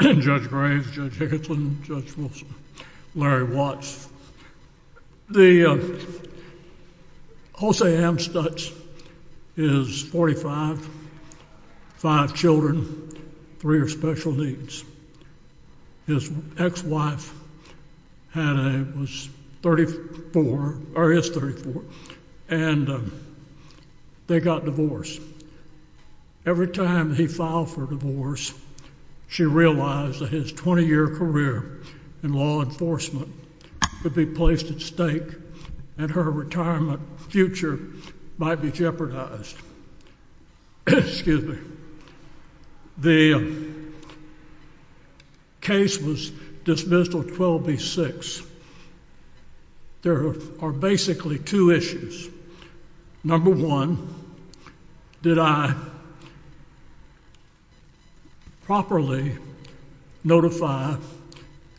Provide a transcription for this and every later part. Judge Graves, Judge Hickinson, Judge Wilson, Larry Watts, the Jose Amstutz is 45, 5 children, 3 are special needs, his ex-wife had a, was 34, or is 34, and they got divorced. Every time he filed for divorce, she realized that his 20 year career in law enforcement would be placed at stake and her retirement future might be jeopardized. Excuse me. The case was dismissed on 12B6. There are basically two issues. Number one, did I properly notify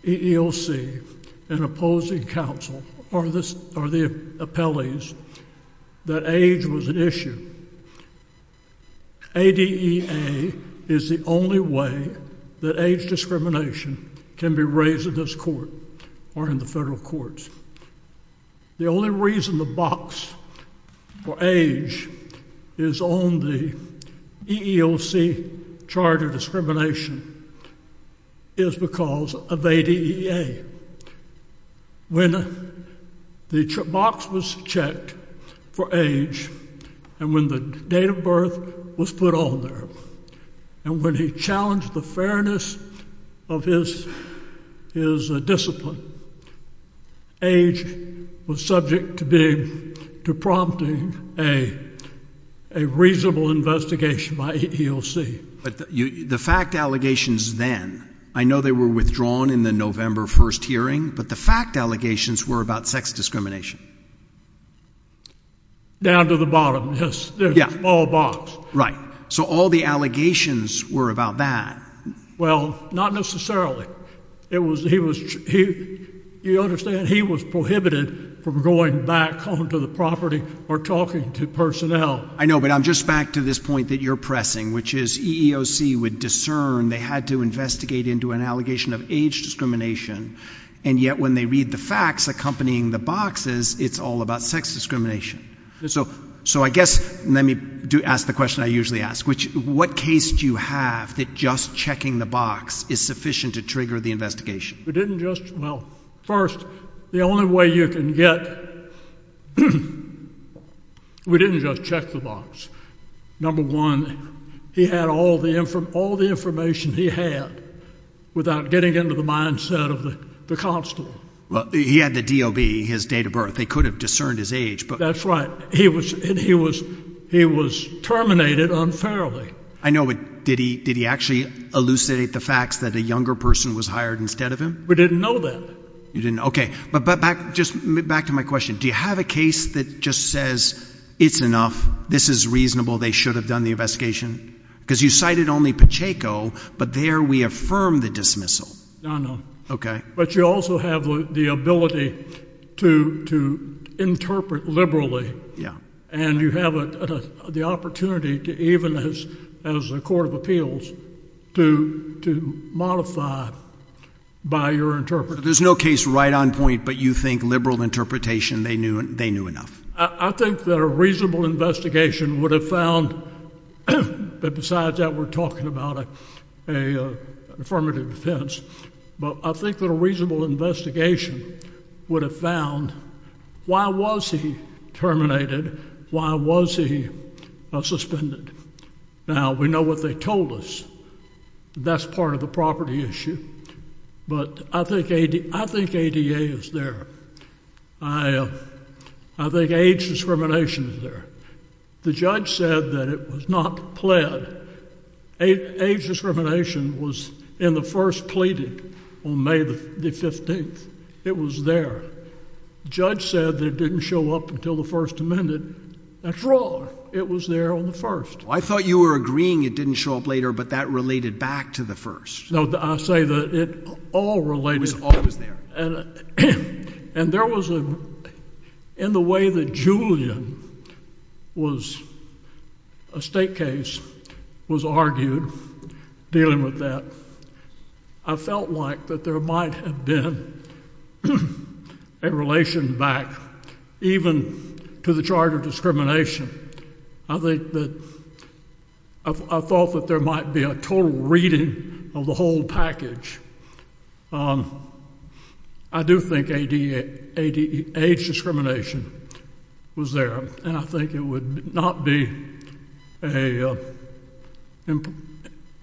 EEOC and opposing counsel or the appellees that age was an issue? ADEA is the only way that age discrimination can be raised in this court or in the federal courts. The only reason the box for age is on the EEOC chart of discrimination is because of ADEA. When the box was checked for age and when the date of birth was put on there, and when he challenged the fairness of his discipline, age was subject to prompting a reasonable investigation by EEOC. But the fact allegations then, I know they were withdrawn in the November 1st hearing, but the fact allegations were about sex discrimination. Down to the bottom, yes. Yeah. There's a small box. Right. So all the allegations were about that. Well, not necessarily. It was, he was, you understand, he was prohibited from going back onto the property or talking to personnel. I know, but I'm just back to this point that you're pressing, which is EEOC would discern they had to investigate into an allegation of age discrimination, and yet when they read the facts accompanying the boxes, it's all about sex discrimination. So I guess, let me ask the question I usually ask, which, what case do you have that just checking the box is sufficient to trigger the investigation? We didn't just, well, first, the only way you can get, we didn't just check the box. Number one, he had all the information he had without getting into the mindset of the constable. Well, he had the DOB, his date of birth. They could have discerned his age. That's right. He was terminated unfairly. I know, but did he actually elucidate the facts that a younger person was hired instead of him? We didn't know that. You didn't, okay. But back, just back to my question. Do you have a case that just says it's enough, this is reasonable, they should have done the investigation? Because you cited only Pacheco, but there we affirm the dismissal. No, no. Okay. But you also have the ability to interpret liberally. And you have the opportunity to even as a court of appeals to modify by your interpreter. There's no case right on point, but you think liberal interpretation, they knew enough. I think that a reasonable investigation would have found, but besides that we're talking about an affirmative defense. But I think that a reasonable investigation would have found why was he terminated? Why was he suspended? Now, we know what they told us. That's part of the property issue. But I think ADA is there. I think age discrimination is there. The judge said that it was not pled. Age discrimination was in the first pleaded on May the 15th. It was there. Judge said that it didn't show up until the first amended. That's wrong. It was there on the first. I thought you were agreeing it didn't show up later, but that related back to the first. No, I say that it all related. It was always there. And there was in the way that Julian was a state case was argued dealing with that. I felt like that there might have been a relation back even to the charge of discrimination. I thought that there might be a total reading of the whole package. I do think age discrimination was there. And I think it would not be an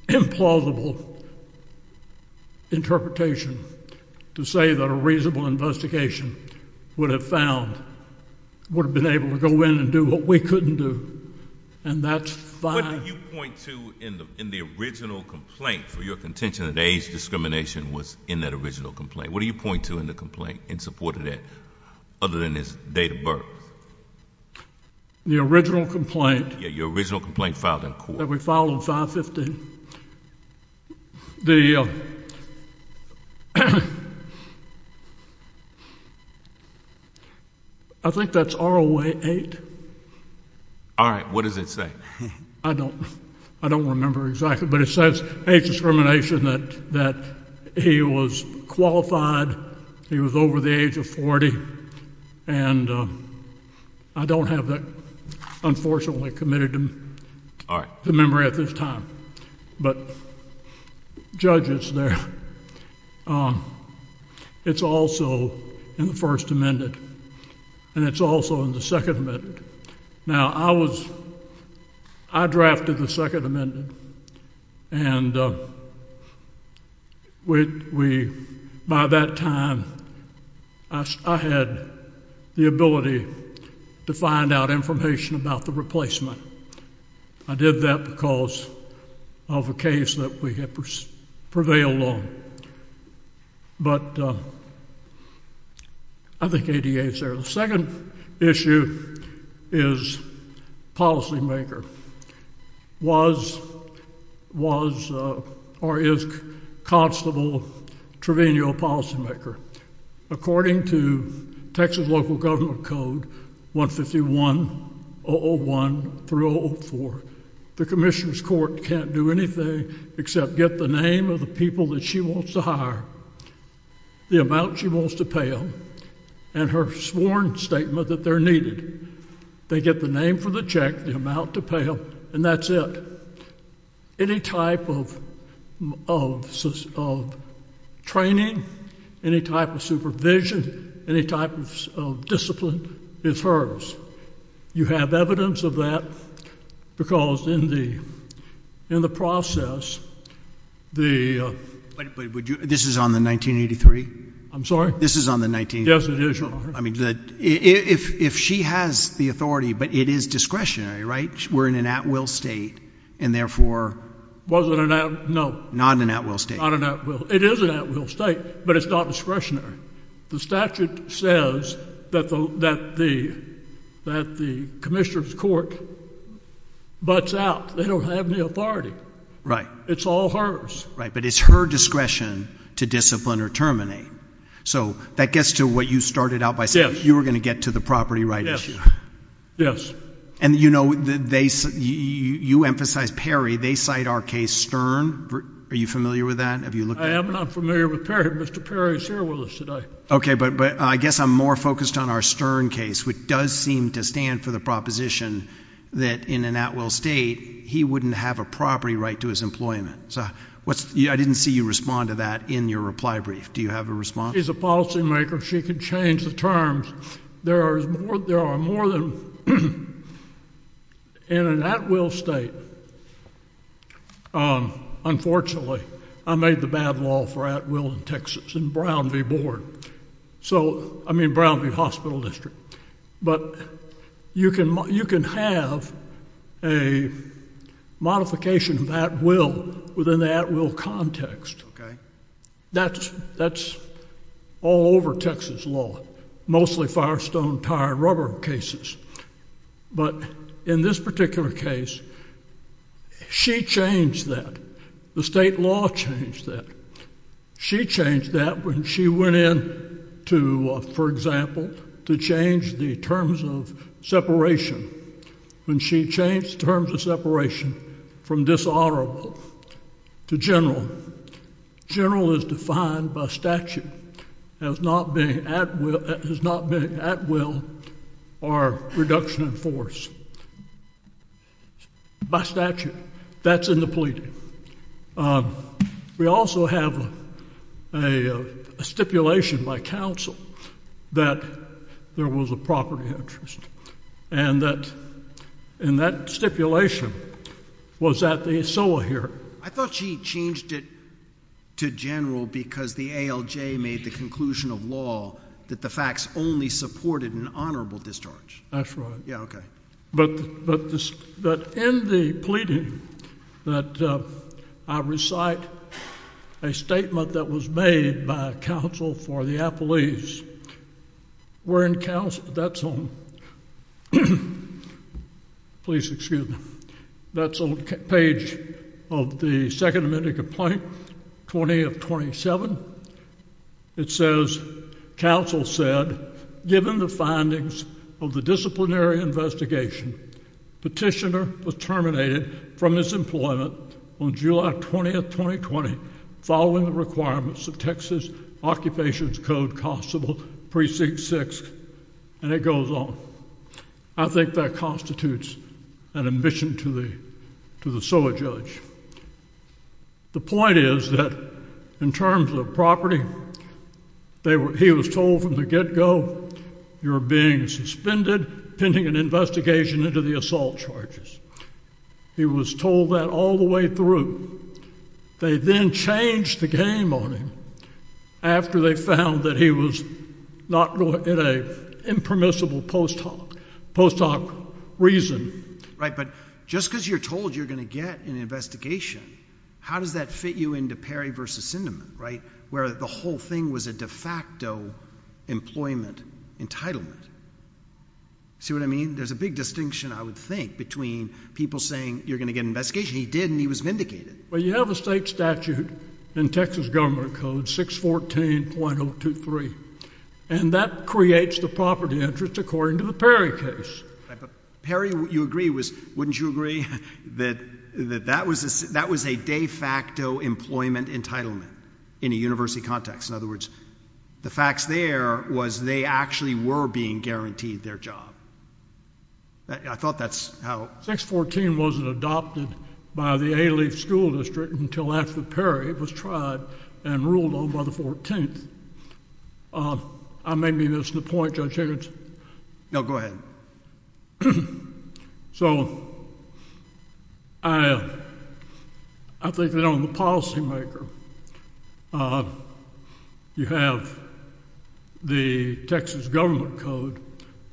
implausible interpretation to say that a reasonable investigation would have found, would have been able to go in and do what we couldn't do. And that's fine. What do you point to in the original complaint for your contention that age discrimination was in that original complaint? What do you point to in the complaint in support of that other than his date of birth? The original complaint. Yeah, your original complaint filed in court. That we filed in 515. I think that's ROA 8. All right. What does it say? I don't remember exactly. But it says age discrimination that he was qualified. He was over the age of 40. And I don't have that, unfortunately, committed to memory at this time. But judge it's there. It's also in the First Amendment. And it's also in the Second Amendment. Now, I was, I drafted the Second Amendment. And we, by that time, I had the ability to find out information about the replacement. I did that because of a case that we had prevailed on. But I think ADA is there. The second issue is policymaker. Was or is Constable Trevino a policymaker? According to Texas local government code 151-001-004, the commissioner's court can't do anything except get the name of the people that she wants to hire, the amount she wants to pay them, and her sworn statement that they're needed. They get the name for the check, the amount to pay them, and that's it. Any type of training, any type of supervision, any type of discipline is hers. You have evidence of that because in the process, the ‑‑ But would you, this is on the 1983? I'm sorry? This is on the 1983? Yes, it is yours. I mean, if she has the authority, but it is discretionary, right? We're in an at‑will state, and therefore ‑‑ Was it an at ‑‑ no. Not an at‑will state. Not an at‑will. It is an at‑will state, but it's not discretionary. The statute says that the commissioner's court butts out. They don't have any authority. Right. It's all hers. Right, but it's her discretion to discipline or terminate. So that gets to what you started out by saying. You were going to get to the property right issue. Yes, yes. And you know, you emphasized Perry. They cite our case, Stern. Are you familiar with that? I am, and I'm familiar with Perry. Mr. Perry is here with us today. Okay, but I guess I'm more focused on our Stern case, which does seem to stand for the proposition that in an at‑will state, he wouldn't have a property right to his employment. I didn't see you respond to that in your reply brief. Do you have a response? She's a policymaker. She can change the terms. There are more than ‑‑ in an at‑will state, unfortunately, I made the bad law for at‑will in Texas in Brown v. Board. So, I mean Brown v. Hospital District. But you can have a modification of at‑will within the at‑will context. Okay. That's all over Texas law. Mostly firestone, tire, rubber cases. But in this particular case, she changed that. The state law changed that. She changed that when she went in to, for example, to change the terms of separation. When she changed the terms of separation from dishonorable to general. General is defined by statute as not being at‑will or reduction in force. By statute. That's in the plea deal. We also have a stipulation by counsel that there was a property interest. And that stipulation was at the SOA hearing. I thought she changed it to general because the ALJ made the conclusion of law that the facts only supported an honorable discharge. That's right. Yeah, okay. But in the plea deal, that I recite a statement that was made by counsel for the appellees, that's on page of the second amendment complaint, 20 of 27. It says, counsel said, given the findings of the disciplinary investigation, petitioner was terminated from his employment on July 20, 2020, following the requirements of Texas Occupations Code Constable Precinct 6. And it goes on. I think that constitutes an admission to the SOA judge. The point is that in terms of property, he was told from the get‑go you're being suspended pending an investigation into the assault charges. He was told that all the way through. They then changed the game on him after they found that he was not in a impermissible post hoc reason. Right, but just because you're told you're going to get an investigation, how does that fit you into Perry v. Sindeman, right, where the whole thing was a de facto employment entitlement? See what I mean? There's a big distinction, I would think, between people saying you're going to get an investigation. He did, and he was vindicated. Well, you have a state statute in Texas Government Code 614.023, and that creates the property interest according to the Perry case. Perry, you agree, wouldn't you agree, that that was a de facto employment entitlement in a university context? In other words, the facts there was they actually were being guaranteed their job. I thought that's how ‑‑ 614 wasn't adopted by the Ailey School District until after Perry was tried and ruled on by the 14th. I may be missing the point, Judge Higgins. No, go ahead. So I think that on the policymaker, you have the Texas Government Code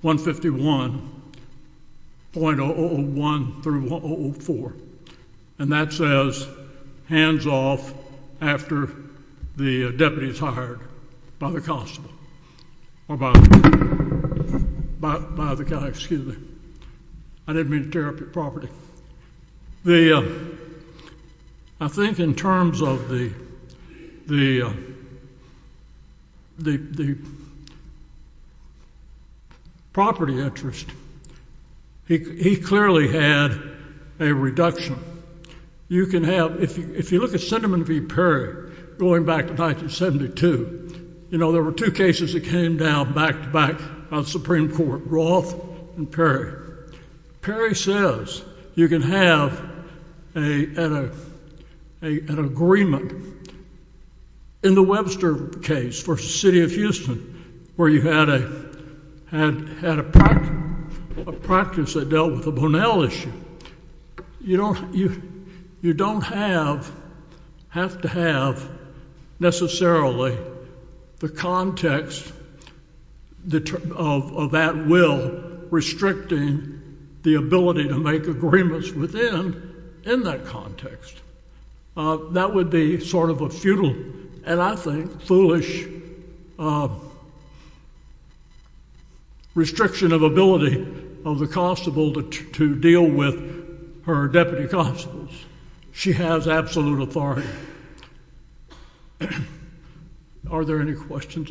151.001 through 1004, and that says hands off after the deputy is hired by the constable, or by the guy, excuse me. I didn't mean to tear up your property. The ‑‑ I think in terms of the property interest, he clearly had a reduction. You can have ‑‑ if you look at Senderman v. Perry going back to 1972, you know, there were two cases that came down back to back on the Supreme Court, Roth and Perry. Perry says you can have an agreement in the Webster case v. City of Houston where you had a practice that dealt with the Bonnell issue. You don't have to have necessarily the context of that will restricting the ability to make agreements within in that context. That would be sort of a futile, and I think foolish, restriction of ability of the constable to deal with her deputy constables. She has absolute authority. Are there any questions?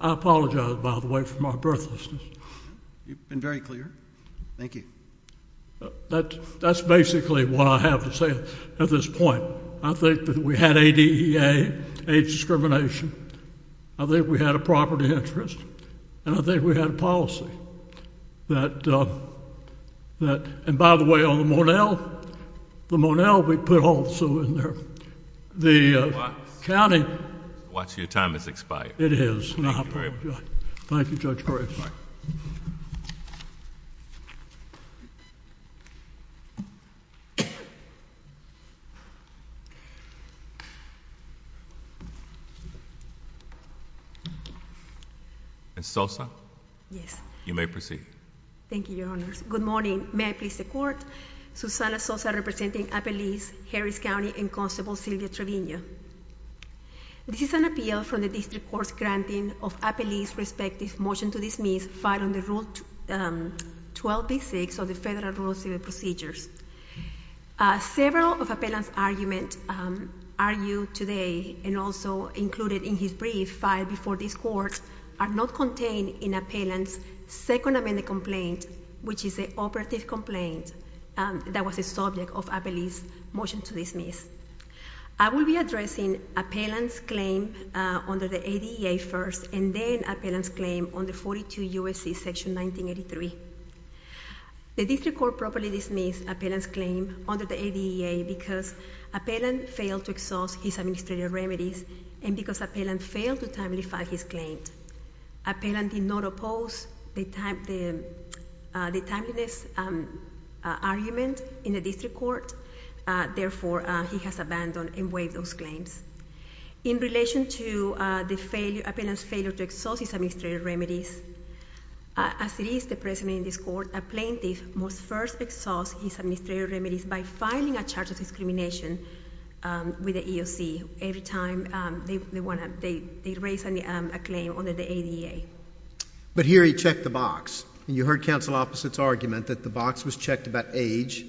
I apologize, by the way, for my breathlessness. You've been very clear. Thank you. That's basically what I have to say at this point. I think that we had ADEA, age discrimination. I think we had a property interest, and I think we had a policy. And by the way, on the Bonnell, we put also in there the county. Your time has expired. It has. Thank you, Judge Graves. Ms. Sosa? Yes. You may proceed. Thank you, Your Honors. Good morning. May I please the Court? Susana Sosa representing Appellees, Harris County, and Constable Sylvia Trevino. This is an appeal from the District Court's granting of Appellees' respective motion to dismiss filed under Rule 12b-6 of the Federal Rural Civil Procedures. Several of Appellant's arguments argued today and also included in his brief filed before this Court are not contained in Appellant's Second Amendment complaint, which is an operative complaint that was a subject of Appellee's motion to dismiss. I will be addressing Appellant's claim under the ADEA first, and then Appellant's claim under 42 U.S.C. section 1983. The District Court properly dismissed Appellant's claim under the ADEA because Appellant failed to exhaust his administrative remedies and because Appellant failed to timely file his claim. Appellant did not oppose the timeliness argument in the District Court. Therefore, he has abandoned and waived those claims. In relation to Appellant's failure to exhaust his administrative remedies, as it is the precedent in this Court, a plaintiff must first exhaust his administrative remedies by filing a charge of discrimination with the EOC every time they raise a claim under the ADEA. But here he checked the box. You heard counsel opposite's argument that the box was checked about age,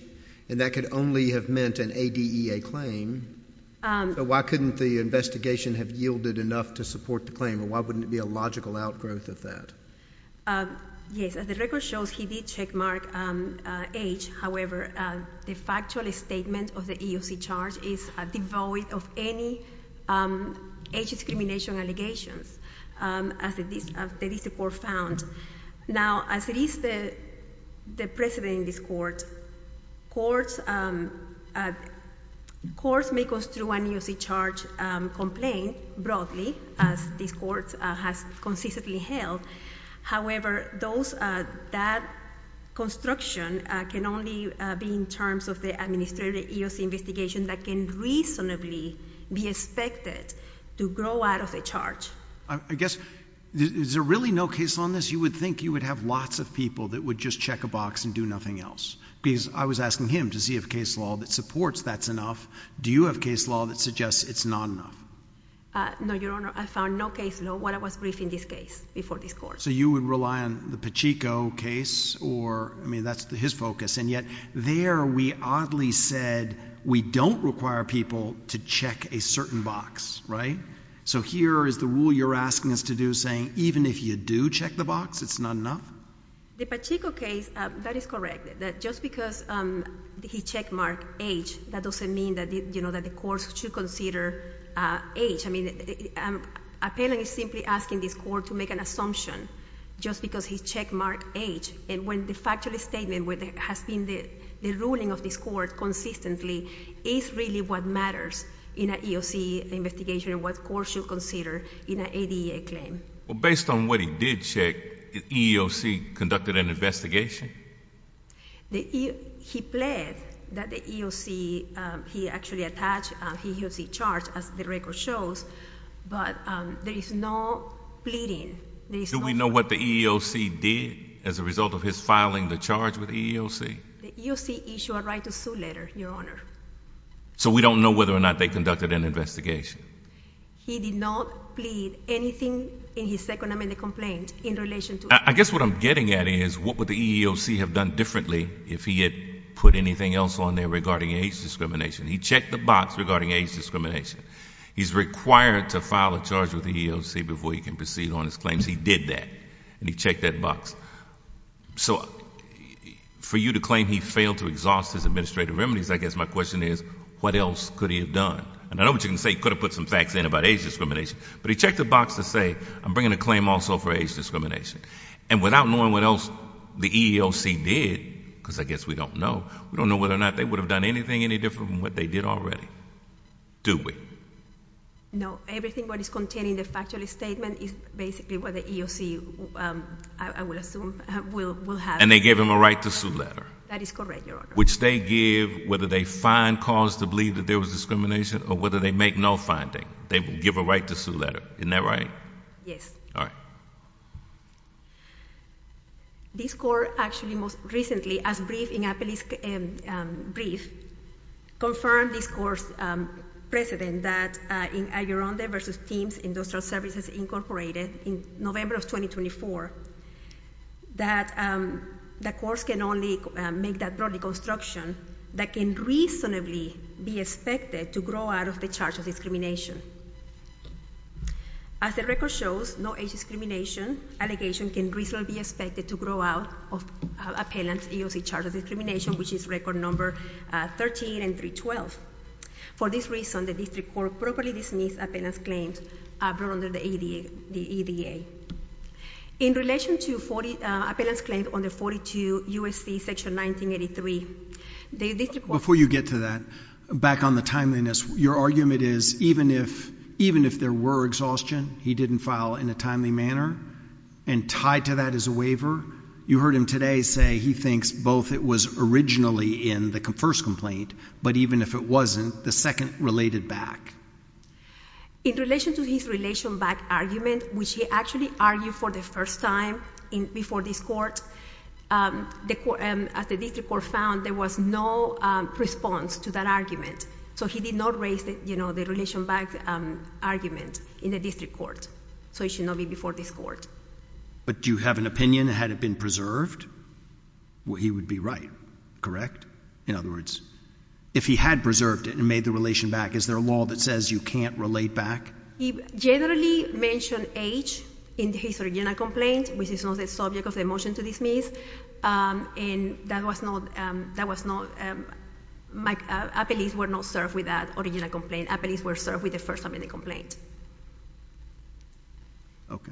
and that could only have meant an ADEA claim. So why couldn't the investigation have yielded enough to support the claim, or why wouldn't it be a logical outgrowth of that? Yes, as the record shows, he did checkmark age. However, the factual statement of the EOC charge is devoid of any age discrimination allegations, as the District Court found. Now, as it is the precedent in this Court, courts may construe an EOC charge complaint broadly, as this Court has consistently held. However, that construction can only be in terms of the administrative EOC investigation that can reasonably be expected to grow out of the charge. I guess, is there really no case law in this? You would think you would have lots of people that would just check a box and do nothing else. Because I was asking him to see if case law that supports that's enough. Do you have case law that suggests it's not enough? No, Your Honor. I found no case law when I was briefing this case before this Court. So you would rely on the Pacheco case? Or, I mean, that's his focus. And yet, there we oddly said we don't require people to check a certain box, right? So here is the rule you're asking us to do, saying even if you do check the box, it's not enough? The Pacheco case, that is correct. Just because he checkmarked H, that doesn't mean that the courts should consider H. I mean, Appellant is simply asking this Court to make an assumption just because he checkmarked H. And when the factual statement has been the ruling of this Court consistently, it's really what matters in an EOC investigation and what courts should consider in an ADA claim. Well, based on what he did check, the EEOC conducted an investigation? He pled that the EEOC, he actually attached a HEOC charge, as the record shows, but there is no pleading. Do we know what the EEOC did as a result of his filing the charge with the EEOC? The EEOC issued a right to sue letter, Your Honor. So we don't know whether or not they conducted an investigation? He did not plead anything in his second amendment complaint in relation to it. I guess what I'm getting at is what would the EEOC have done differently if he had put anything else on there regarding H discrimination? He checked the box regarding H discrimination. He's required to file a charge with the EEOC before he can proceed on his claims. He did that, and he checked that box. So for you to claim he failed to exhaust his administrative remedies, I guess my question is what else could he have done? And I know what you're going to say, he could have put some facts in about H discrimination, but he checked the box to say I'm bringing a claim also for H discrimination. And without knowing what else the EEOC did, because I guess we don't know, we don't know whether or not they would have done anything any different from what they did already, do we? No. Everything that is contained in the factual statement is basically what the EEOC, I would assume, will have. And they gave him a right to sue letter. That is correct, Your Honor. Which they give whether they find cause to believe that there was discrimination or whether they make no finding. They give a right to sue letter. Isn't that right? Yes. All right. This court actually most recently, as briefed in a police brief, confirmed this court's precedent that in Aguironde v. Thames Industrial Services Incorporated in November of 2024, that the courts can only make that broad deconstruction that can reasonably be expected to grow out of the charge of discrimination. As the record shows, no H discrimination allegation can reasonably be expected to grow out of appellant EEOC charge of discrimination, which is record number 13 and 312. For this reason, the district court properly dismissed appellant's claims brought under the ADA. In relation to appellant's claim under 42 U.S.C. section 1983, the district court- Before you get to that, back on the timeliness, your argument is even if there were exhaustion, he didn't file in a timely manner, and tied to that is a waiver, you heard him today say he thinks both it was originally in the first complaint, but even if it wasn't, the second related back. In relation to his relation back argument, which he actually argued for the first time before this court, as the district court found, there was no response to that argument. So he did not raise the relation back argument in the district court. So it should not be before this court. But do you have an opinion, had it been preserved, he would be right, correct? In other words, if he had preserved it and made the relation back, is there a law that says you can't relate back? He generally mentioned H in his original complaint, which is not the subject of the motion to dismiss. And that was not- appellees were not served with that original complaint. Appellees were served with the first amendment complaint. Okay.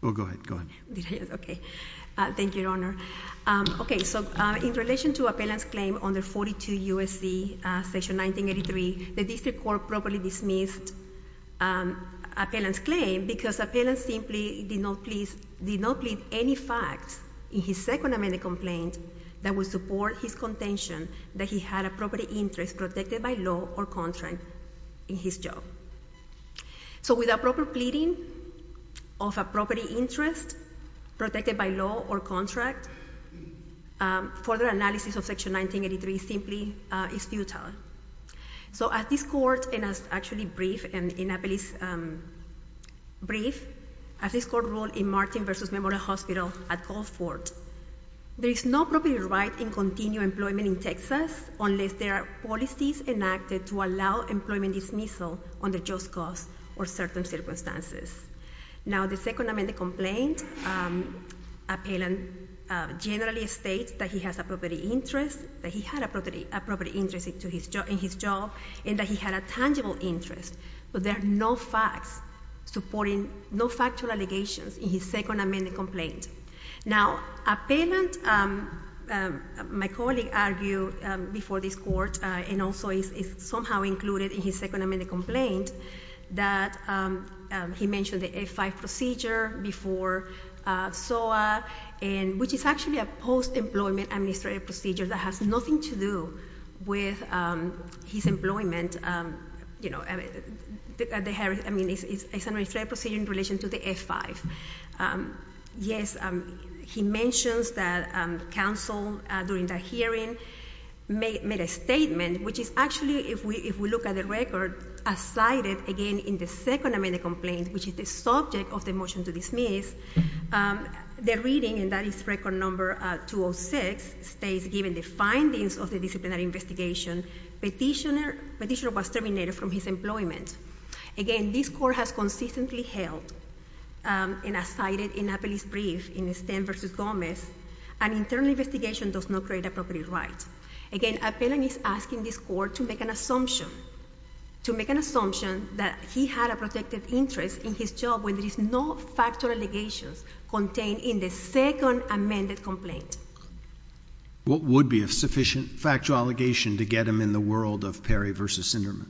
Well, go ahead, go ahead. Okay. Thank you, Your Honor. Okay, so in relation to appellant's claim under 42 U.S.C. section 1983, the district court properly dismissed appellant's claim because appellant simply did not please, did not plead any facts in his second amendment complaint that would support his contention that he had a property interest protected by law or contract in his job. So without proper pleading of a property interest protected by law or contract, further analysis of section 1983 simply is futile. So as this court, and as actually briefed in an appellee's brief, as this court ruled in Martin v. Memorial Hospital at Gulfport, there is no property right in continued employment in Texas unless there are policies enacted to allow employment dismissal under just cause or certain circumstances. Now, the second amendment complaint, appellant generally states that he has a property interest, that he had a property interest in his job, and that he had a tangible interest. But there are no facts supporting, no factual allegations in his second amendment complaint. Now, appellant, my colleague argued before this court, and also is somehow included in his second amendment complaint, that he mentioned the F-5 procedure before SOA, which is actually a post-employment administrative procedure that has nothing to do with his employment. I mean, it's an administrative procedure in relation to the F-5. Yes, he mentions that counsel during that hearing made a statement, which is actually, if we look at the record, as cited again in the second amendment complaint, which is the subject of the motion to dismiss, the reading, and that is record number 206, states, given the findings of the disciplinary investigation, petitioner was terminated from his employment. Again, this court has consistently held, and as cited in Appellee's brief in Stem v. Gomez, an internal investigation does not create a property right. Again, appellant is asking this court to make an assumption, to make an assumption that he had a protected interest in his job when there is no factual allegations contained in the second amended complaint. What would be a sufficient factual allegation to get him in the world of Perry v. Sinderman?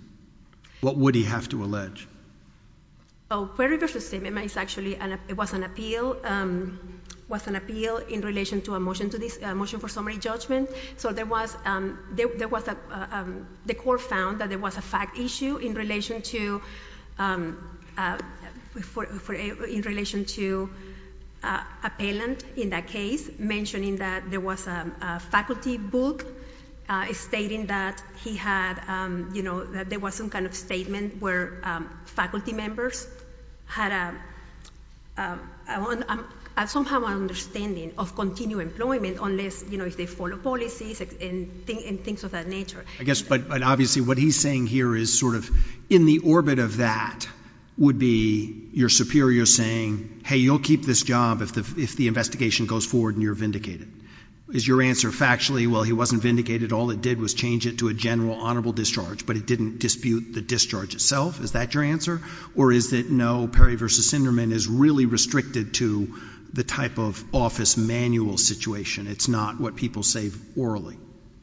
What would he have to allege? Perry v. Sinderman was an appeal in relation to a motion for summary judgment. The court found that there was a fact issue in relation to appellant in that case, mentioning that there was a faculty book stating that he had, you know, that there was some kind of statement where faculty members had a, somehow an understanding of continued employment unless, you know, if they follow policies and things of that nature. I guess, but obviously what he's saying here is sort of in the orbit of that would be your superior saying, hey, you'll keep this job if the investigation goes forward and you're vindicated. Is your answer factually, well, he wasn't vindicated, all it did was change it to a general honorable discharge, but it didn't dispute the discharge itself? Is that your answer? Or is it no, Perry v. Sinderman is really restricted to the type of office manual situation. It's not what people say orally.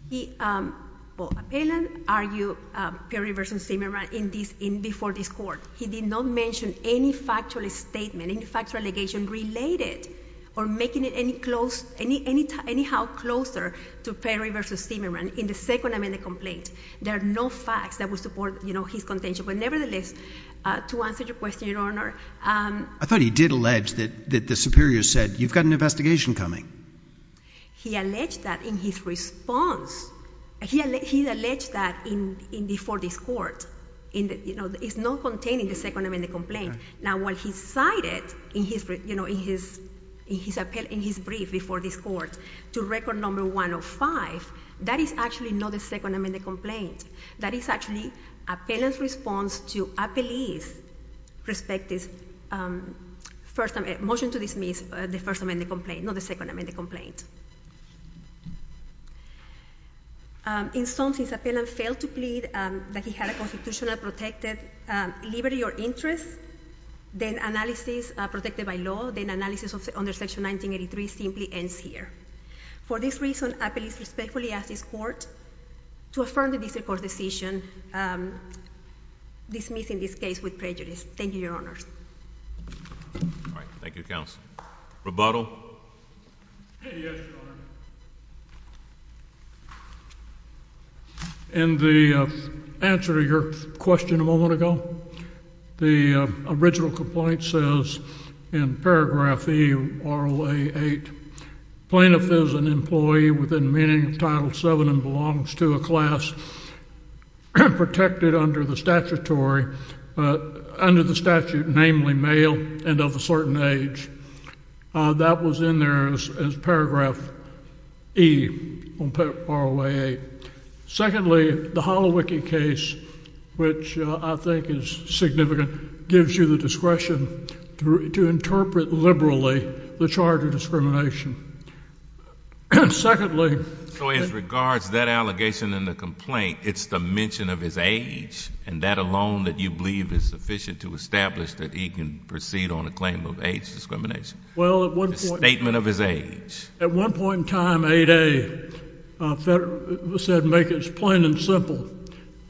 He, well, appellant argued Perry v. Sinderman in this, before this court. He did not mention any factual statement, any factual allegation related or making it any close, anyhow closer to Perry v. Sinderman in the second amendment complaint. There are no facts that would support, you know, his contention. But nevertheless, to answer your question, Your Honor. I thought he did allege that the superior said you've got an investigation coming. He alleged that in his response. He alleged that before this court. It's not contained in the second amendment complaint. Now, what he cited in his brief before this court to record number 105, that is actually not the second amendment complaint. That is actually appellant's response to appellee's respective motion to dismiss the first amendment complaint, not the second amendment complaint. In sum, since appellant failed to plead that he had a constitutional protected liberty or interest, then analysis protected by law, then analysis under section 1983 simply ends here. For this reason, appellee respectfully asks this court to affirm the district court's decision dismissing this case with prejudice. Thank you, Your Honor. All right. Thank you, counsel. Rebuttal. Yes, Your Honor. In the answer to your question a moment ago, the original complaint says in paragraph E, RLA 8, plaintiff is an employee within meaning of Title VII and belongs to a class protected under the statutory, under the statute namely male and of a certain age. That was in there as paragraph E on RLA 8. Secondly, the Holowicki case, which I think is significant, gives you the discretion to interpret liberally the charge of discrimination. Secondly. So in regards to that allegation in the complaint, it's the mention of his age, and that alone that you believe is sufficient to establish that he can proceed on a claim of age discrimination. Well, at one point. The statement of his age. At one point in time, 8A said make it plain and simple.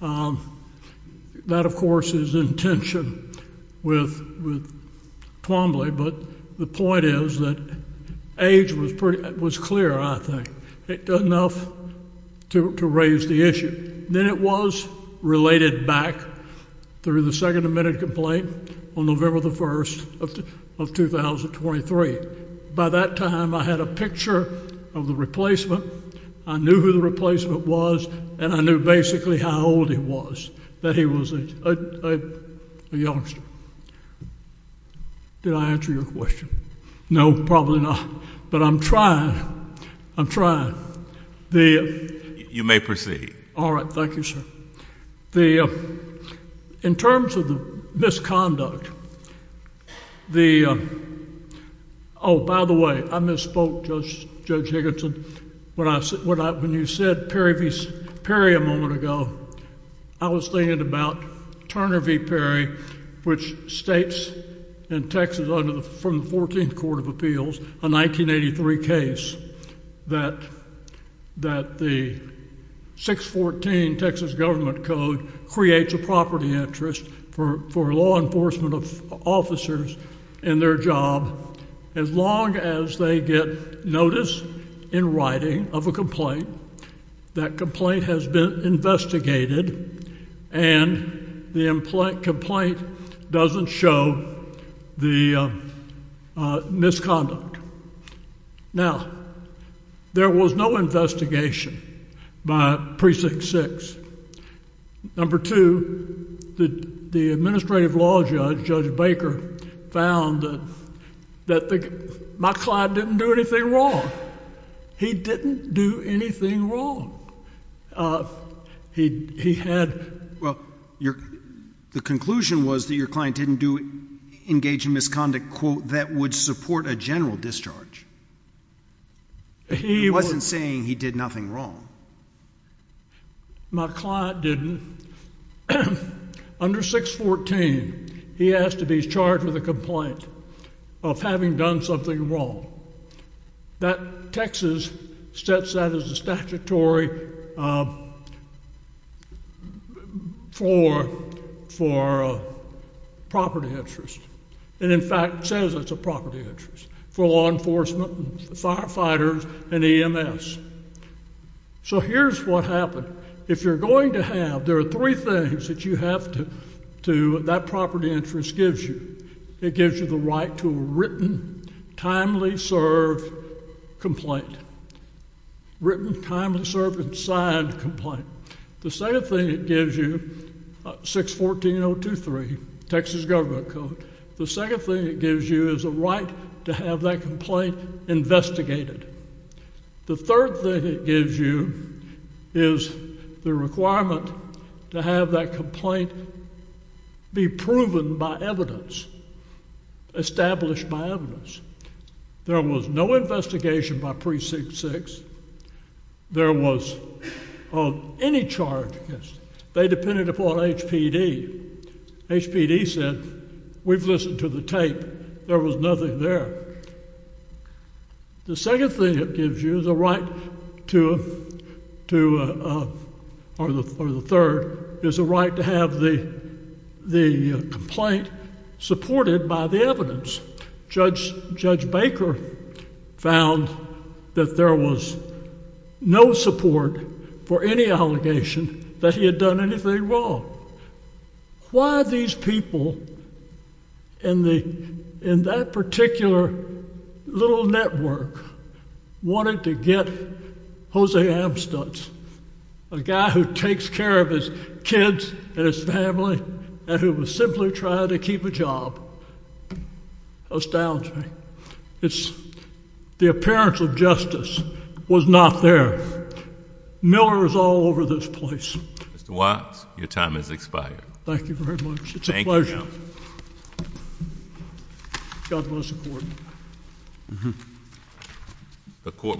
That, of course, is in tension with Twombly. But the point is that age was clear, I think, enough to raise the issue. Then it was related back through the second amended complaint on November 1st of 2023. By that time, I had a picture of the replacement. I knew who the replacement was. And I knew basically how old he was, that he was a youngster. Did I answer your question? No, probably not. But I'm trying. I'm trying. You may proceed. All right. Thank you, sir. In terms of the misconduct, the—oh, by the way, I misspoke, Judge Higginson. When you said Perry a moment ago, I was thinking about Turner v. Perry, which states in Texas from the 14th Court of Appeals, a 1983 case, that the 614 Texas Government Code creates a property interest for law enforcement officers in their job as long as they get notice in writing of a complaint, that complaint has been investigated, and the complaint doesn't show the misconduct. Now, there was no investigation by Precinct 6. Number two, the administrative law judge, Judge Baker, found that my client didn't do anything wrong. He didn't do anything wrong. He had— The conclusion was that your client didn't engage in misconduct, quote, that would support a general discharge. He wasn't saying he did nothing wrong. My client didn't. Under 614, he has to be charged with a complaint of having done something wrong. That—Texas sets that as a statutory for property interest, and in fact says it's a property interest for law enforcement, firefighters, and EMS. So here's what happened. If you're going to have—there are three things that you have to—that property interest gives you. It gives you the right to a written, timely served complaint. Written, timely served, and signed complaint. The second thing it gives you, 614.023, Texas Government Code, the second thing it gives you is a right to have that complaint investigated. The third thing it gives you is the requirement to have that complaint be proven by evidence, established by evidence. There was no investigation by Precinct 6. There was any charge against—they depended upon HPD. HPD said, we've listened to the tape. There was nothing there. The second thing it gives you is a right to—or the third, is a right to have the complaint supported by the evidence. Judge Baker found that there was no support for any allegation that he had done anything wrong. Why are these people in that particular little network wanting to get Jose Amstutz, a guy who takes care of his kids and his family and who was simply trying to keep a job? It astounds me. It's—the appearance of justice was not there. Miller is all over this place. Mr. Watts, your time has expired. Thank you very much. Thank you. God bless the Court.